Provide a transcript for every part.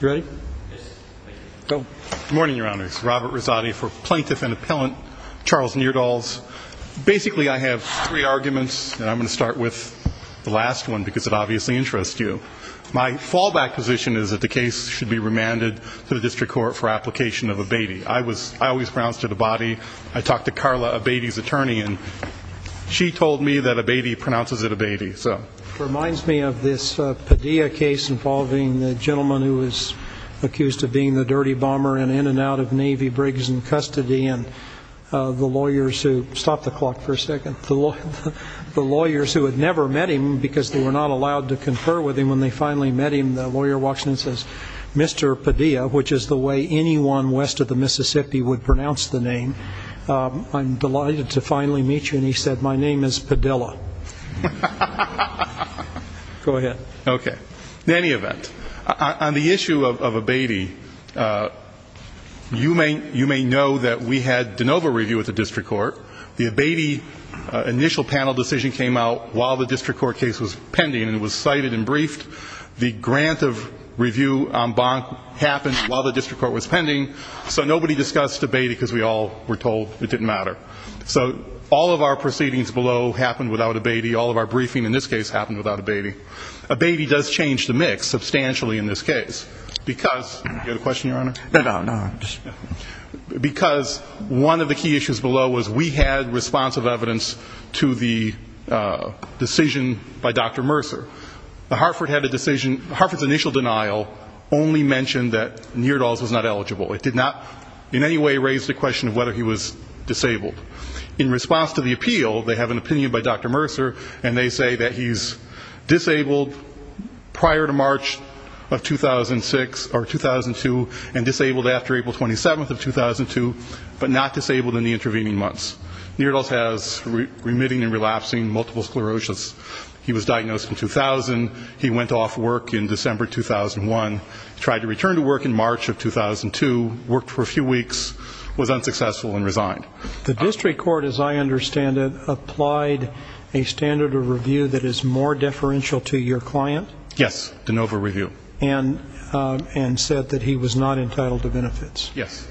Good morning, Your Honor. This is Robert Rosati for Plaintiff and Appellant, Charles Neerdals. Basically, I have three arguments, and I'm going to start with the last one because it obviously interests you. My fallback position is that the case should be remanded to the district court for application of abatis. I always pronounced it abatis. I talked to Carla, abatis' attorney, and she told me that abatis pronounces it abatis. It reminds me of this Padilla case involving the gentleman who was accused of being the dirty bomber in and out of Navy Briggs in custody and the lawyers who had never met him because they were not allowed to confer with him. When they finally met him, the lawyer walks in and says, Mr. Padilla, which is the way anyone west of the Mississippi would pronounce the name, I'm delighted to finally meet you. And he said, My name is Padilla. Go ahead. Okay. In any event, on the issue of abatis, you may know that we had de novo review with the district court. The abatis initial panel decision came out while the district court case was pending and was cited and briefed. The grant of review en banc happened while the district court was pending, so nobody discussed abatis because we all were told it didn't matter. So all of our proceedings below happened without abatis. All of our briefing in this case happened without abatis. Abatis does change the mix substantially in this case because one of the key issues below was we had responsive evidence to the decision by Dr. Mercer. The Hartford had a decision. Hartford's initial denial only mentioned that Neerdals was not eligible. It did not in any way raise the question of whether he was disabled. In response to the appeal, they have an opinion by Dr. Mercer, and they say that he's disabled prior to March of 2006 or 2002 and disabled after April 27th of 2002, but not disabled in the intervening months. Neerdals has remitting and relapsing multiple sclerosis. He was diagnosed in 2000. He went off work in December 2001. Tried to return to work in March of 2002, worked for a few weeks, was unsuccessful, and resigned. The district court, as I understand it, applied a standard of review that is more deferential to your client? Yes, de novo review. And said that he was not entitled to benefits. Yes.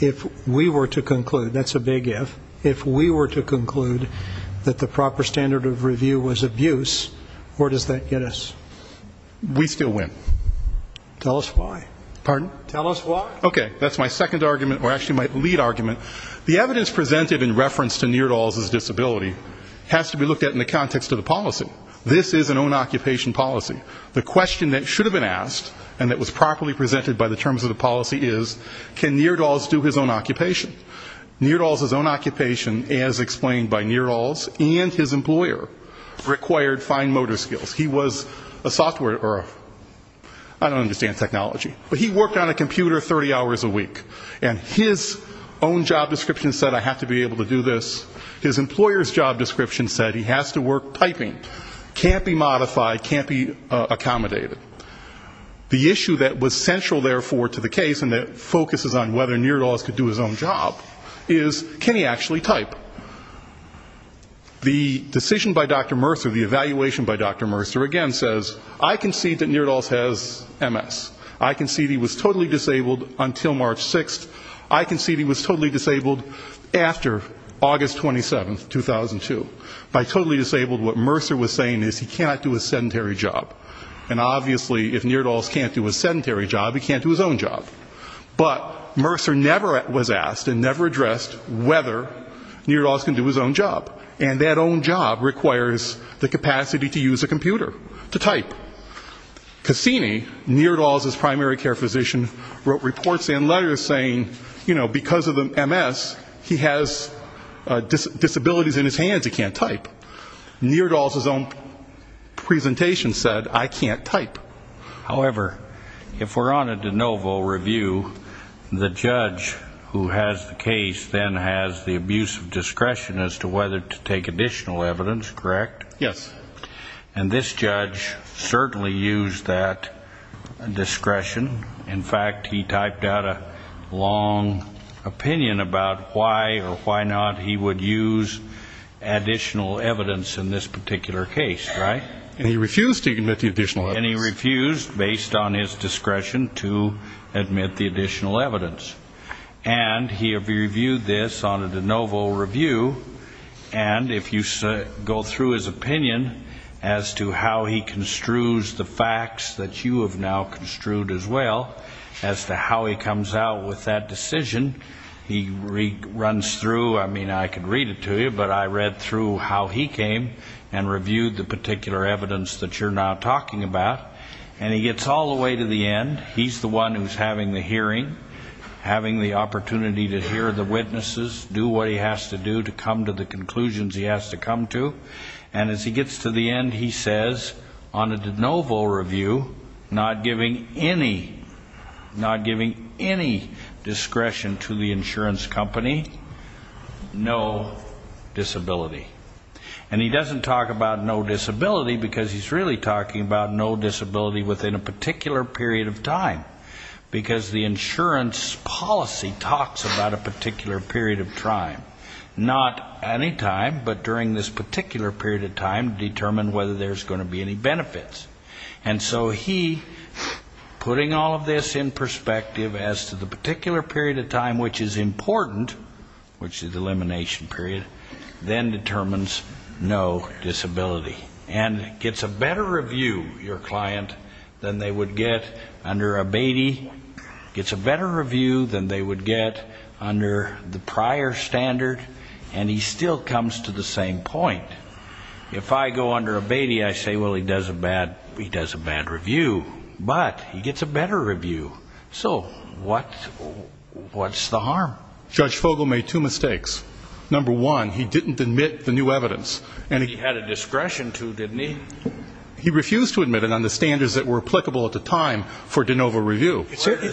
If we were to conclude, that's a big if, if we were to conclude that the proper standard of review was abuse, where does that get us? We still win. Tell us why. Pardon? Tell us why. Okay, that's my second argument, or actually my lead argument. The evidence presented in reference to Neerdals' disability has to be looked at in the context of the policy. This is an own-occupation policy. The question that should have been asked and that was properly presented by the terms of the policy is, can Neerdals do his own occupation? Neerdals' own occupation, as explained by Neerdals and his employer, required fine motor skills. He was a software, or I don't understand technology, but he worked on a computer 30 hours a week. And his own job description said, I have to be able to do this. His employer's job description said, he has to work typing, can't be modified, can't be accommodated. The issue that was central, therefore, to the case, and that focuses on whether Neerdals could do his own job, is, can he actually type? The decision by Dr. Mercer, the evaluation by Dr. Mercer, again says, I concede that Neerdals has MS. I concede he was totally disabled until March 6th. I concede he was totally disabled after August 27th, 2002. By totally disabled, what Mercer was saying is he cannot do his sedentary job. And obviously, if Neerdals can't do his sedentary job, he can't do his own job. But Mercer never was asked and never addressed whether Neerdals can do his own job. And that own job requires the capacity to use a computer to type. Cassini, Neerdals' primary care physician, wrote reports and letters saying, you know, because of the MS, he has disabilities in his hands, he can't type. Neerdals' own presentation said, I can't type. However, if we're on a de novo review, the judge who has the case then has the abuse of discretion as to whether to take additional evidence, correct? Yes. And this judge certainly used that discretion. In fact, he typed out a long opinion about why or why not he would use additional evidence in this particular case, right? And he refused to admit the additional evidence. And he refused, based on his discretion, to admit the additional evidence. And he reviewed this on a de novo review. And if you go through his opinion as to how he construes the facts that you have now construed as well as to how he comes out with that decision, he runs through, I mean, I could read it to you, but I read through how he came and reviewed the particular evidence that you're now talking about. And he gets all the way to the end. He's the one who's having the hearing, having the opportunity to hear the witnesses, do what he has to do to come to the conclusions he has to come to. And as he gets to the end, he says, on a de novo review, not giving any, not giving any discretion to the insurance company, no disability. And he doesn't talk about no disability because he's really talking about no disability within a particular period of time. Because the insurance policy talks about a particular period of time. Not any time, but during this particular period of time to determine whether there's going to be any benefits. And so he, putting all of this in perspective as to the particular period of time which is important, which is the elimination period, then determines no disability. And gets a better review, your client, than they would get under a BATI. Gets a better review than they would get under the prior standard. And he still comes to the same point. If I go under a BATI, I say, well, he does a bad review. But he gets a better review. So what's the harm? Judge Fogle made two mistakes. Number one, he didn't admit the new evidence. And he had a discretion to, didn't he? He refused to admit it on the standards that were applicable at the time for de novo review.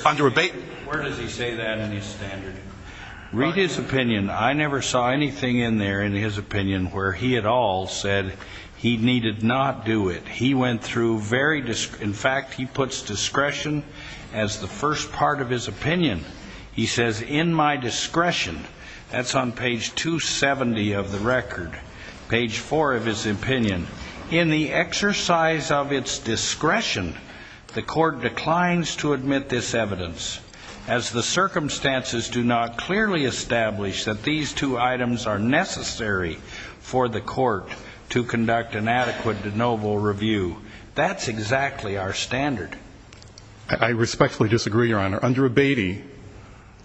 Under a BATI. Where does he say that in his standard? Read his opinion. I never saw anything in there in his opinion where he at all said he needed not do it. He went through very, in fact, he puts discretion as the first part of his opinion. He says, in my discretion, that's on page 270 of the record. Page four of his opinion. In the exercise of its discretion, the court declines to admit this evidence. As the circumstances do not clearly establish that these two items are necessary for the court to conduct an adequate de novo review. That's exactly our standard. I respectfully disagree, your honor. Under a BATI,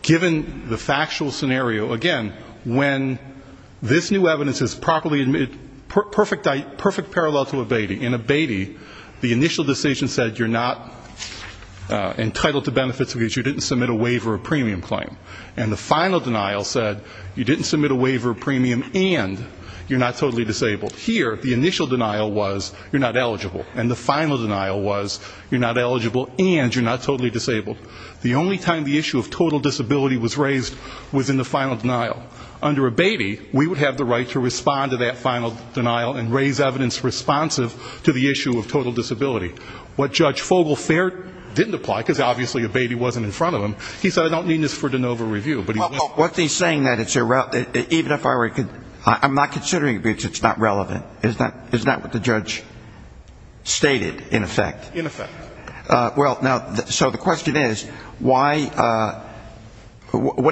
given the factual scenario, again, when this new evidence is properly, perfect parallel to a BATI. In a BATI, the initial decision said you're not entitled to benefits because you didn't submit a waiver of premium claim. And the final denial said you didn't submit a waiver of premium and you're not totally disabled. Here, the initial denial was you're not eligible. And the final denial was you're not eligible and you're not totally disabled. The only time the issue of total disability was raised was in the final denial. Under a BATI, we would have the right to respond to that final denial and raise evidence responsive to the issue of total disability. What Judge Fogel-Fair didn't apply, because obviously a BATI wasn't in front of him, he said I don't need this for de novo review. I'm not considering it because it's not relevant. Isn't that what the judge stated, in effect? In effect. So the question is, what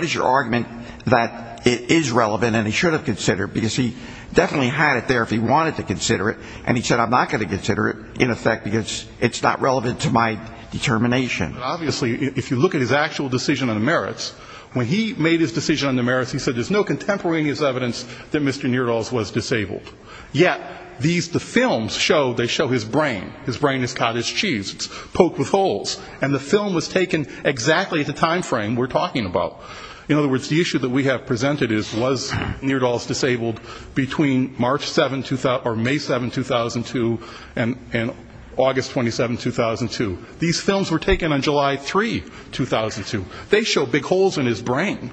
is your argument that it is relevant and he should have considered, because he definitely had it there if he wanted to consider it, and he said I'm not going to consider it, in effect, because it's not relevant to my determination. Obviously, if you look at his actual decision on the merits, when he made his decision on the merits, he said there's no contemporaneous evidence that Mr. Neerdals was disabled. Yet, these, the films show, they show his brain. His brain is cottage cheese. It's poked with holes. And the film was taken exactly at the time frame we're talking about. In other words, the issue that we have presented is, was Neerdals disabled between May 7, 2002 and August 27, 2002? These films were taken on July 3, 2002. They show big holes in his brain.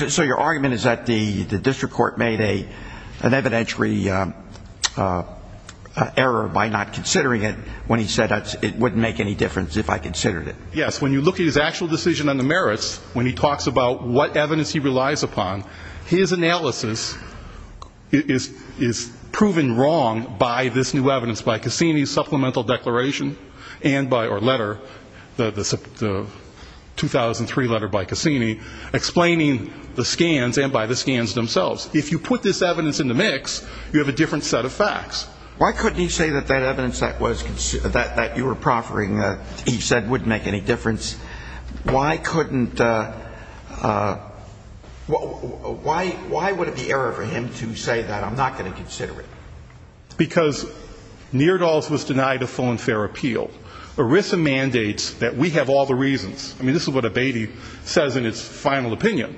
So your argument is that the district court made an evidentiary error by not considering it when he said it wouldn't make any difference if I considered it. Yes. When you look at his actual decision on the merits, when he talks about what evidence he relies upon, his analysis is proven wrong by this new evidence, by Cassini's supplemental declaration, or letter, the 2003 letter by Cassini, explaining the scans and by the scans themselves. If you put this evidence in the mix, you have a different set of facts. Why couldn't he say that that evidence that you were proffering, he said, wouldn't make any difference? Why couldn't, why would it be error for him to say that I'm not going to consider it? Because Neerdals was denied a full and fair appeal. ERISA mandates that we have all the reasons. I mean, this is what Abatey says in its final opinion.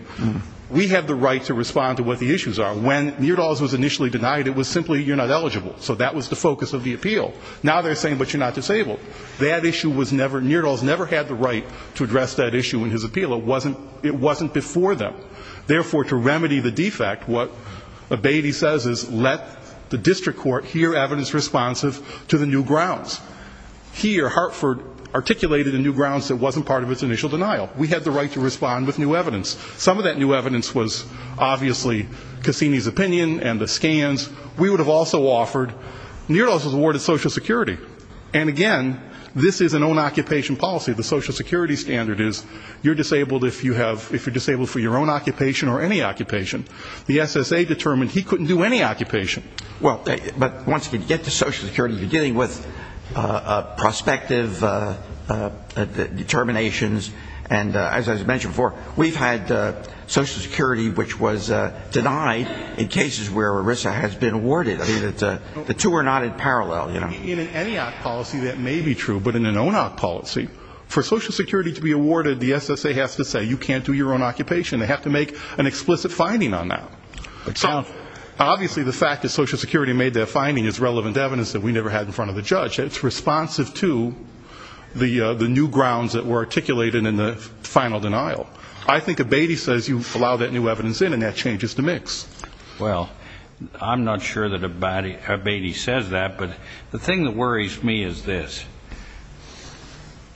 We have the right to respond to what the issues are. When Neerdals was initially denied, it was simply you're not eligible. So that was the focus of the appeal. Now they're saying, but you're not disabled. That issue was never, Neerdals never had the right to address that issue in his appeal. It wasn't before them. Therefore, to remedy the defect, what Abatey says is, let the district court hear evidence responsive to the new grounds. Here, Hartford articulated a new grounds that wasn't part of its initial denial. We had the right to respond with new evidence. Some of that new evidence was obviously Cassini's opinion and the scans. We would have also offered, Neerdals was awarded Social Security. And, again, this is an own-occupation policy. The Social Security standard is you're disabled if you have, if you're disabled for your own occupation or any occupation. The SSA determined he couldn't do any occupation. Well, but once you get to Social Security, beginning with prospective determinations, and as I mentioned before, we've had Social Security, which was denied in cases where ERISA has been awarded. The two are not in parallel. In any policy, that may be true. But in an own-op policy, for Social Security to be awarded, the SSA has to say you can't do your own occupation. They have to make an explicit finding on that. So obviously the fact that Social Security made that finding is relevant to evidence that we never had in front of the judge. It's responsive to the new grounds that were articulated in the final denial. I think Abatey says you allow that new evidence in, and that changes the mix. Well, I'm not sure that Abatey says that, but the thing that worries me is this.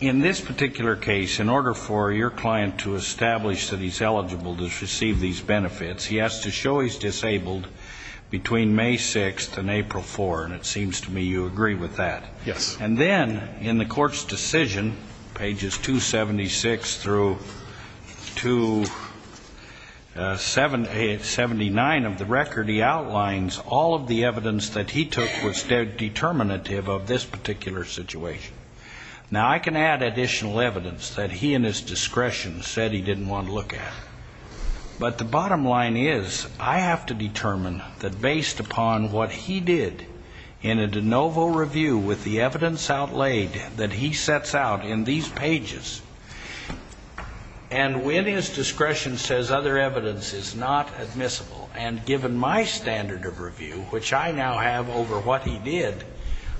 In this particular case, in order for your client to establish that he's eligible to receive these benefits, he has to show he's disabled between May 6th and April 4th, and it seems to me you agree with that. Yes. And then in the court's decision, pages 276 through 279 of the record, he outlines all of the evidence that he took was determinative of this particular situation. Now, I can add additional evidence that he in his discretion said he didn't want to look at. But the bottom line is I have to determine that based upon what he did in a de novo review with the evidence outlaid that he sets out in these pages, and when his discretion says other evidence is not admissible, and given my standard of review, which I now have over what he did,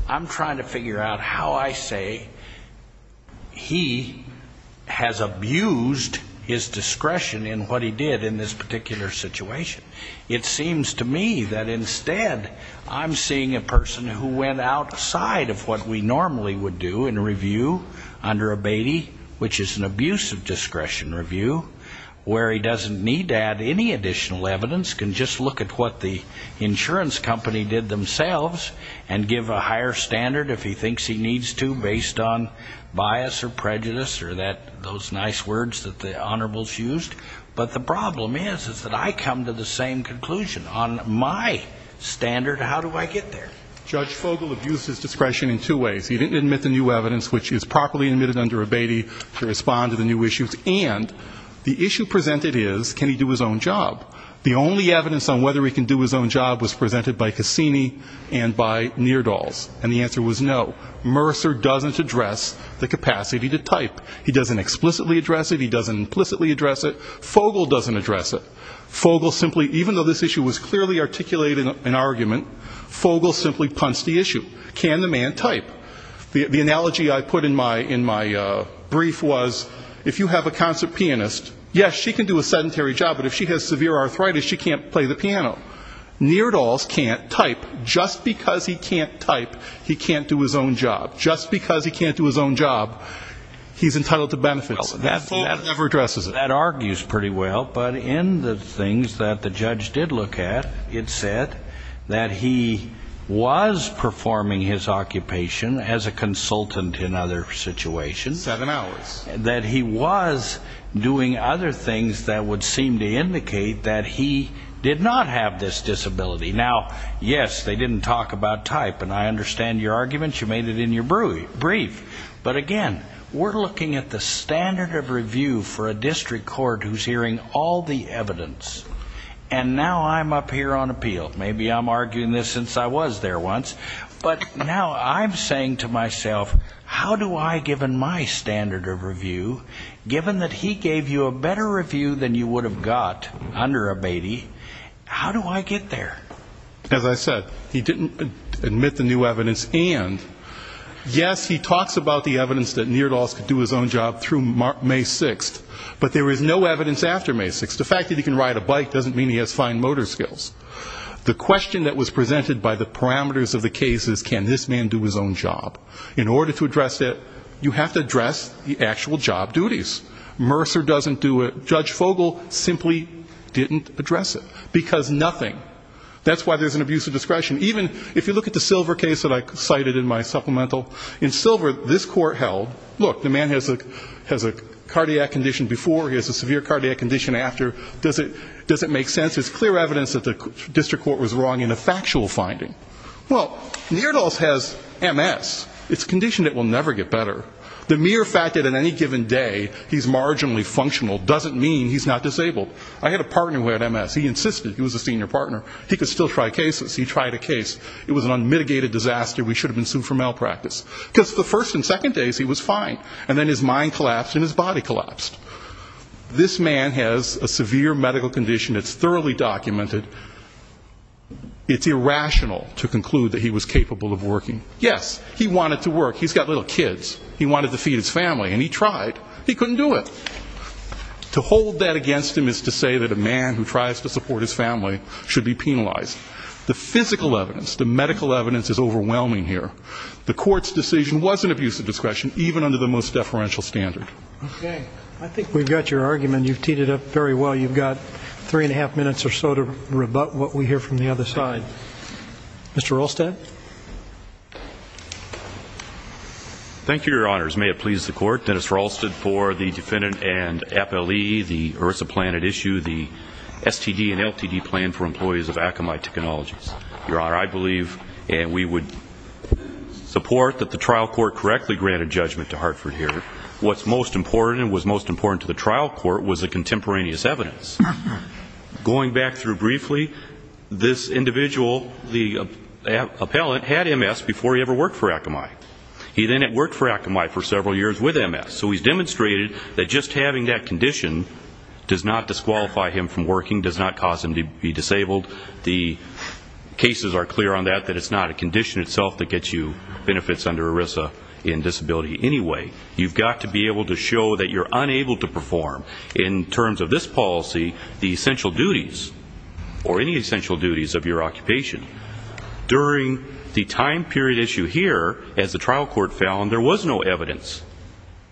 I'm trying to figure out how I say he has abused his discretion in what he did in this particular situation. It seems to me that instead I'm seeing a person who went outside of what we normally would do in a review under Abatey, which is an abuse of discretion review, where he doesn't need to add any additional evidence, can just look at what the insurance company did themselves and give a higher standard if he thinks he needs to based on bias or prejudice or those nice words that the honorables used. But the problem is is that I come to the same conclusion. On my standard, how do I get there? Judge Fogle abused his discretion in two ways. He didn't admit the new evidence, which is properly admitted under Abatey to respond to the new issues. And the issue presented is can he do his own job? The only evidence on whether he can do his own job was presented by Cassini and by Neerdals. And the answer was no. Mercer doesn't address the capacity to type. He doesn't explicitly address it. He doesn't implicitly address it. Fogle doesn't address it. Fogle simply, even though this issue was clearly articulated in an argument, Fogle simply punched the issue. Can the man type? The analogy I put in my brief was if you have a concert pianist, yes, she can do a sedentary job, but if she has severe arthritis, she can't play the piano. Neerdals can't type. Just because he can't type, he can't do his own job. Just because he can't do his own job, he's entitled to benefits. Fogle never addresses it. That argues pretty well. But in the things that the judge did look at, it said that he was performing his occupation as a consultant in other situations. Seven hours. That he was doing other things that would seem to indicate that he did not have this disability. Now, yes, they didn't talk about type, and I understand your arguments. You made it in your brief. But, again, we're looking at the standard of review for a district court who's hearing all the evidence. And now I'm up here on appeal. Maybe I'm arguing this since I was there once. But now I'm saying to myself, how do I, given my standard of review, given that he gave you a better review than you would have got under a Beatty, how do I get there? As I said, he didn't admit the new evidence, and, yes, he talks about the evidence that Neerdals could do his own job through May 6th, but there is no evidence after May 6th. The fact that he can ride a bike doesn't mean he has fine motor skills. The question that was presented by the parameters of the case is, can this man do his own job? In order to address it, you have to address the actual job duties. Mercer doesn't do it. Judge Fogle simply didn't address it because nothing. That's why there's an abuse of discretion. Even if you look at the Silver case that I cited in my supplemental, in Silver, this court held, look, the man has a cardiac condition before, he has a severe cardiac condition after. Does it make sense? It's clear evidence that the district court was wrong in a factual finding. Well, Neerdals has MS. It's a condition that will never get better. The mere fact that at any given day he's marginally functional doesn't mean he's not disabled. I had a partner who had MS. He insisted. He was a senior partner. He could still try cases. He tried a case. It was an unmitigated disaster. We should have been sued for malpractice. Because the first and second days he was fine, and then his mind collapsed and his body collapsed. This man has a severe medical condition that's thoroughly documented. It's irrational to conclude that he was capable of working. Yes, he wanted to work. He's got little kids. He wanted to feed his family, and he tried. He couldn't do it. To hold that against him is to say that a man who tries to support his family should be penalized. The physical evidence, the medical evidence, is overwhelming here. The court's decision was an abuse of discretion, even under the most deferential standard. Okay. I think we've got your argument. You've teed it up very well. You've got three-and-a-half minutes or so to rebut what we hear from the other side. Mr. Rolstad? Thank you, Your Honors. May it please the Court. Dennis Rolstad for the defendant and FLE, the ERISA plan at issue, the STD and LTD plan for employees of Akamai Technologies. Your Honor, I believe and we would support that the trial court correctly granted judgment to Hartford here. What's most important and was most important to the trial court was the contemporaneous evidence. Going back through briefly, this individual, the appellant, had MS before he ever worked for Akamai. He then had worked for Akamai for several years with MS. So he's demonstrated that just having that condition does not disqualify him from working, does not cause him to be disabled. The cases are clear on that, that it's not a condition itself that gets you benefits under ERISA in disability anyway. You've got to be able to show that you're unable to perform, in terms of this policy, the essential duties or any essential duties of your occupation. During the time period issue here, as the trial court found, there was no evidence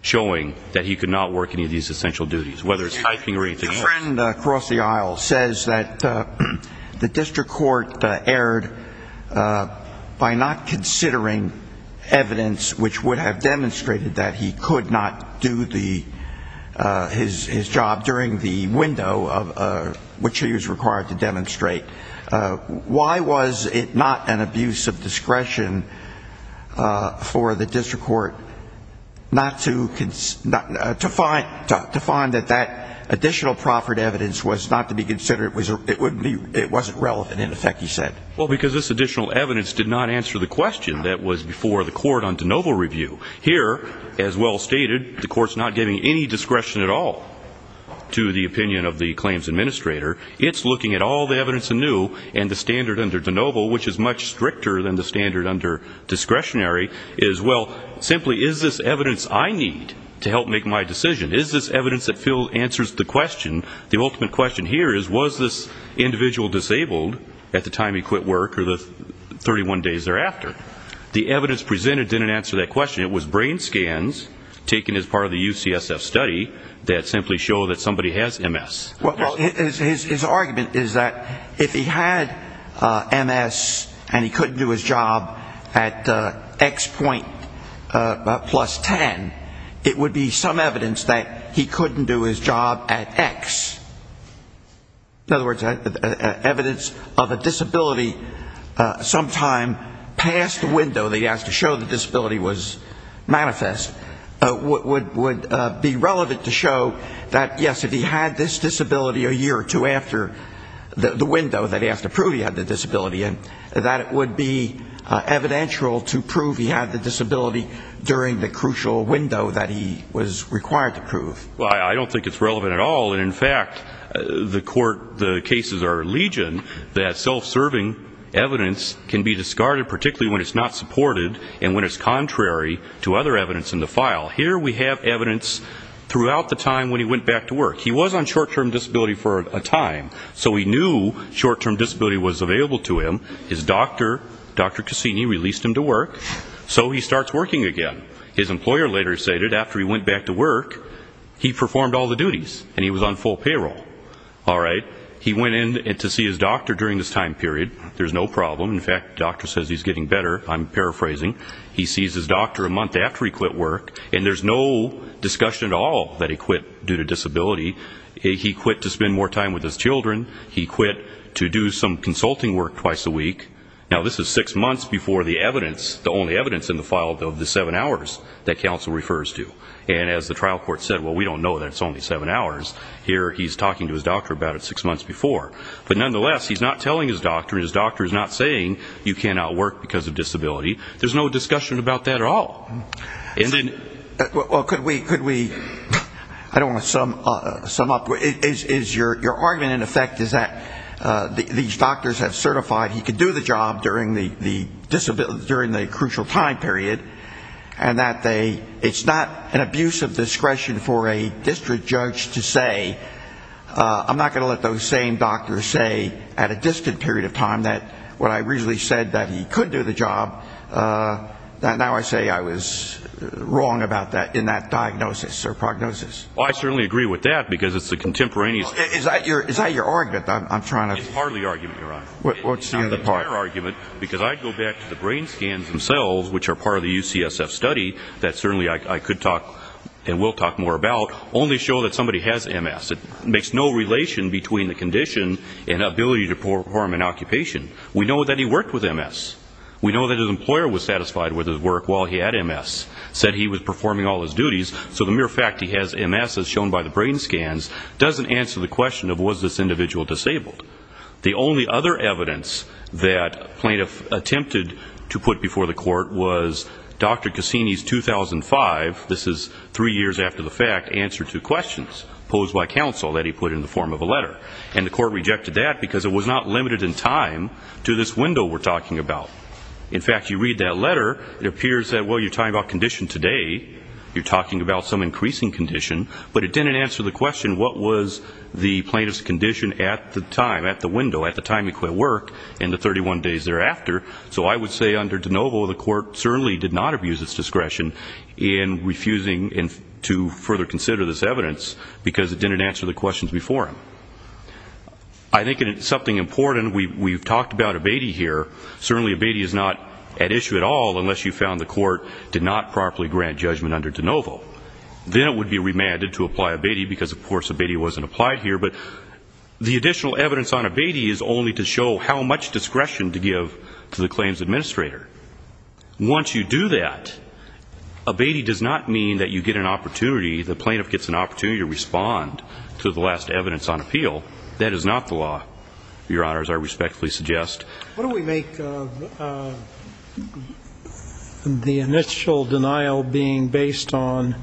showing that he could not work any of these essential duties, whether it's typing or anything else. My friend across the aisle says that the district court erred by not considering evidence which would have demonstrated that he could not do his job during the window which he was required to demonstrate. Why was it not an abuse of discretion for the district court to find that that additional proffered evidence was not to be considered? It wasn't relevant, in effect, he said. Well, because this additional evidence did not answer the question that was before the court on de novo review. Here, as well stated, the court's not giving any discretion at all to the opinion of the claims administrator. It's looking at all the evidence anew, and the standard under de novo, which is much stricter than the standard under discretionary, is, well, simply, is this evidence I need to help make my decision? Is this evidence that answers the question, the ultimate question here is, was this individual disabled at the time he quit work or the 31 days thereafter? The evidence presented didn't answer that question. It was brain scans taken as part of the UCSF study that simply show that somebody has MS. Well, his argument is that if he had MS and he couldn't do his job at X point plus 10, it would be some evidence that he couldn't do his job at X. In other words, evidence of a disability sometime past the window that he has to show the disability was manifest, would be relevant to show that, yes, if he had this disability a year or two after the window that he has to prove he had the disability, that it would be evidential to prove he had the disability during the crucial window that he was required to prove. Well, I don't think it's relevant at all. And, in fact, the court, the cases are legion that self-serving evidence can be discarded, particularly when it's not supported and when it's contrary to other evidence in the file. Here we have evidence throughout the time when he went back to work. He was on short-term disability for a time, so he knew short-term disability was available to him. His doctor, Dr. Cassini, released him to work, so he starts working again. His employer later stated, after he went back to work, he performed all the duties and he was on full payroll. All right, he went in to see his doctor during this time period. There's no problem. In fact, the doctor says he's getting better. I'm paraphrasing. He sees his doctor a month after he quit work, and there's no discussion at all that he quit due to disability. He quit to spend more time with his children. He quit to do some consulting work twice a week. Now, this is six months before the evidence, the only evidence in the file of the seven hours that counsel refers to. And as the trial court said, well, we don't know that it's only seven hours. Here he's talking to his doctor about it six months before. But nonetheless, he's not telling his doctor, and his doctor is not saying you can't outwork because of disability. There's no discussion about that at all. And then... Well, could we, I don't want to sum up, is your argument in effect is that these doctors have certified he can do the job during the crucial time period, and that it's not an abuse of discretion for a district judge to say, I'm not going to let those same doctors say at a distant period of time that when I originally said that he could do the job, now I say I was wrong about that in that diagnosis or prognosis. Well, I certainly agree with that, because it's the contemporaneous... Is that your argument that I'm trying to... It's hardly argument, Your Honor. What's the other part? It's the entire argument, because I'd go back to the brain scans themselves, which are part of the UCSF study that certainly I could talk and will talk more about, only show that somebody has MS. It makes no relation between the condition and ability to perform an occupation. We know that he worked with MS. We know that his employer was satisfied with his work while he had MS, said he was performing all his duties. So the mere fact he has MS, as shown by the brain scans, doesn't answer the question of was this individual disabled. The only other evidence that plaintiff attempted to put before the court was Dr. Cassini's 2005, this is three years after the fact, answer to questions posed by counsel that he put in the form of a letter. And the court rejected that because it was not limited in time to this window we're talking about. In fact, you read that letter, it appears that, well, you're talking about condition today, you're talking about some increasing condition, but it didn't answer the question what was the plaintiff's condition at the time, at the window, at the time he quit work and the 31 days thereafter. So I would say under DeNovo the court certainly did not abuse its discretion in refusing to further consider this evidence because it didn't answer the questions before him. I think something important, we've talked about abete here, certainly abete is not at issue at all unless you found the court did not properly grant judgment under DeNovo. Then it would be remanded to apply abete because, of course, abete wasn't applied here. But the additional evidence on abete is only to show how much discretion to give to the claims administrator. Once you do that, abete does not mean that you get an opportunity, the plaintiff gets an opportunity to respond to the last evidence on appeal. That is not the law, Your Honors, I respectfully suggest. What do we make the initial denial being based on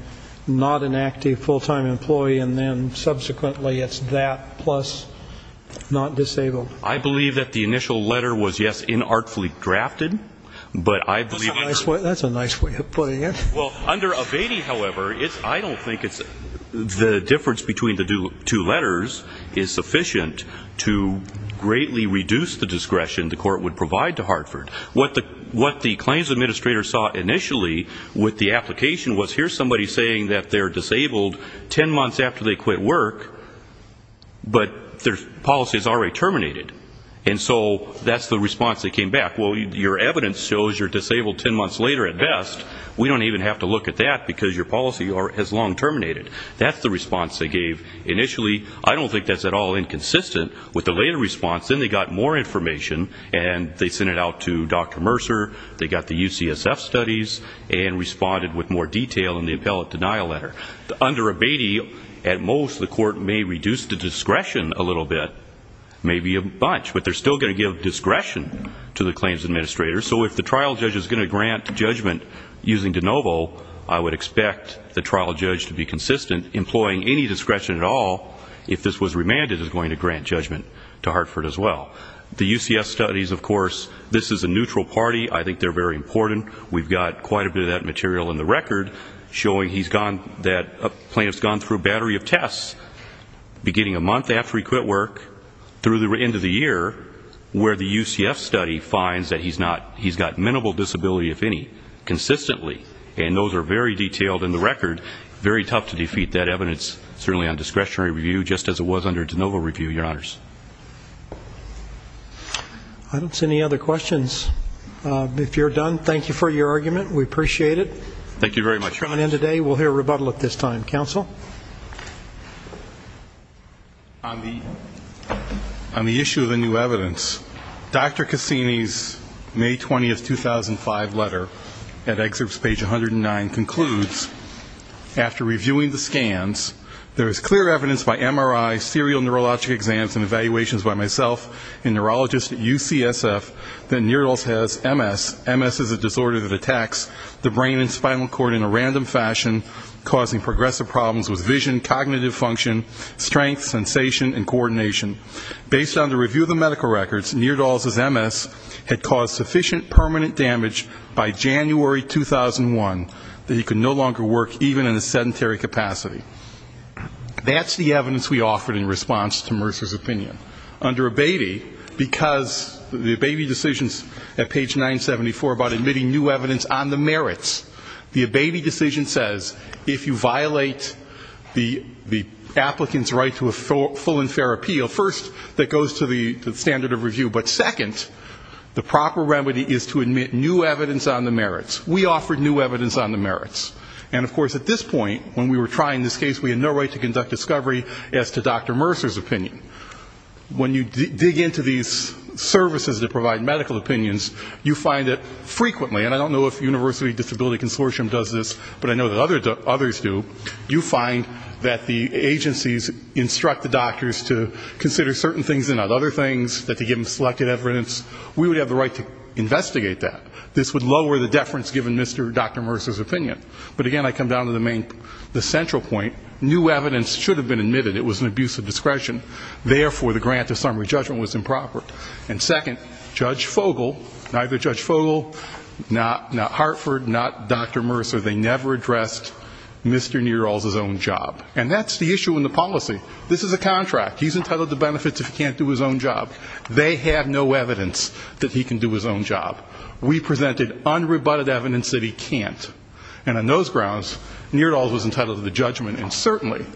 not an active full-time employee and then subsequently it's that plus not disabled? I believe that the initial letter was, yes, inartfully drafted, but I believe that's a nice way of putting it. Well, under abete, however, I don't think the difference between the two letters is sufficient to greatly reduce the discretion the court would provide to Hartford. What the claims administrator saw initially with the application was, here's somebody saying that they're disabled ten months after they quit work, but their policy is already terminated. And so that's the response that came back. Well, your evidence shows you're disabled ten months later at best. We don't even have to look at that because your policy has long terminated. That's the response they gave initially. I don't think that's at all inconsistent with the later response. Then they got more information and they sent it out to Dr. Mercer. They got the UCSF studies and responded with more detail in the appellate denial letter. Under abete, at most, the court may reduce the discretion a little bit, maybe a bunch, but they're still going to give discretion to the claims administrator. So if the trial judge is going to grant judgment using de novo, I would expect the trial judge to be consistent, employing any discretion at all if this was remanded is going to grant judgment to Hartford as well. The UCSF studies, of course, this is a neutral party. I think they're very important. We've got quite a bit of that material in the record showing that a plaintiff's gone through a battery of tests beginning a month after he quit work through the end of the year where the UCSF study finds that he's got minimal disability, if any, consistently. And those are very detailed in the record. Very tough to defeat that evidence, certainly on discretionary review, just as it was under de novo review, Your Honors. I don't see any other questions. If you're done, thank you for your argument. We appreciate it. Thank you very much. We'll hear a rebuttal at this time. Counsel? On the issue of the new evidence, Dr. Cassini's May 20, 2005 letter at excerpts page 109 concludes, after reviewing the scans, there is clear evidence by MRI, serial neurologic exams and evaluations by myself and neurologists at UCSF that Neerdals has MS. MS is a disorder that attacks the brain and spinal cord in a random fashion, causing progressive problems with vision, cognitive function, strength, sensation, and coordination. Based on the review of the medical records, Neerdals' MS had caused sufficient permanent damage by January 2001 that he could no longer work, even in a sedentary capacity. That's the evidence we offered in response to Mercer's opinion. Under Abeyte, because the Abeyte decision at page 974 about admitting new evidence on the merits, the Abeyte decision says, if you violate the applicant's right to a full and fair appeal, first, that goes to the standard of review, but second, the proper remedy is to admit new evidence on the merits. We offered new evidence on the merits. And, of course, at this point, when we were trying this case, we had no right to conduct discovery as to Dr. Mercer's opinion. When you dig into these services that provide medical opinions, you find that frequently, and I don't know if the University Disability Consortium does this, but I know that others do, you find that the agencies instruct the doctors to consider certain things and not other things, that they give them selected evidence. We would have the right to investigate that. This would lower the deference given Mr. and Dr. Mercer's opinion. But, again, I come down to the central point. New evidence should have been admitted. It was an abuse of discretion. Therefore, the grant of summary judgment was improper. And, second, Judge Fogel, neither Judge Fogel, not Hartford, not Dr. Mercer, they never addressed Mr. Neerdals' own job. And that's the issue in the policy. This is a contract. He's entitled to benefits if he can't do his own job. They have no evidence that he can do his own job. We presented unrebutted evidence that he can't. And on those grounds, Neerdals was entitled to the judgment. And, certainly,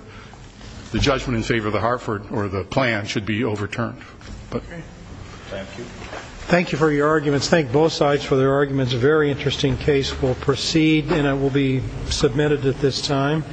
the judgment in favor of the Hartford, or the plan, should be overturned. Thank you. Thank you for your arguments. Thank both sides for their arguments. A very interesting case. We'll proceed, and it will be submitted at this time.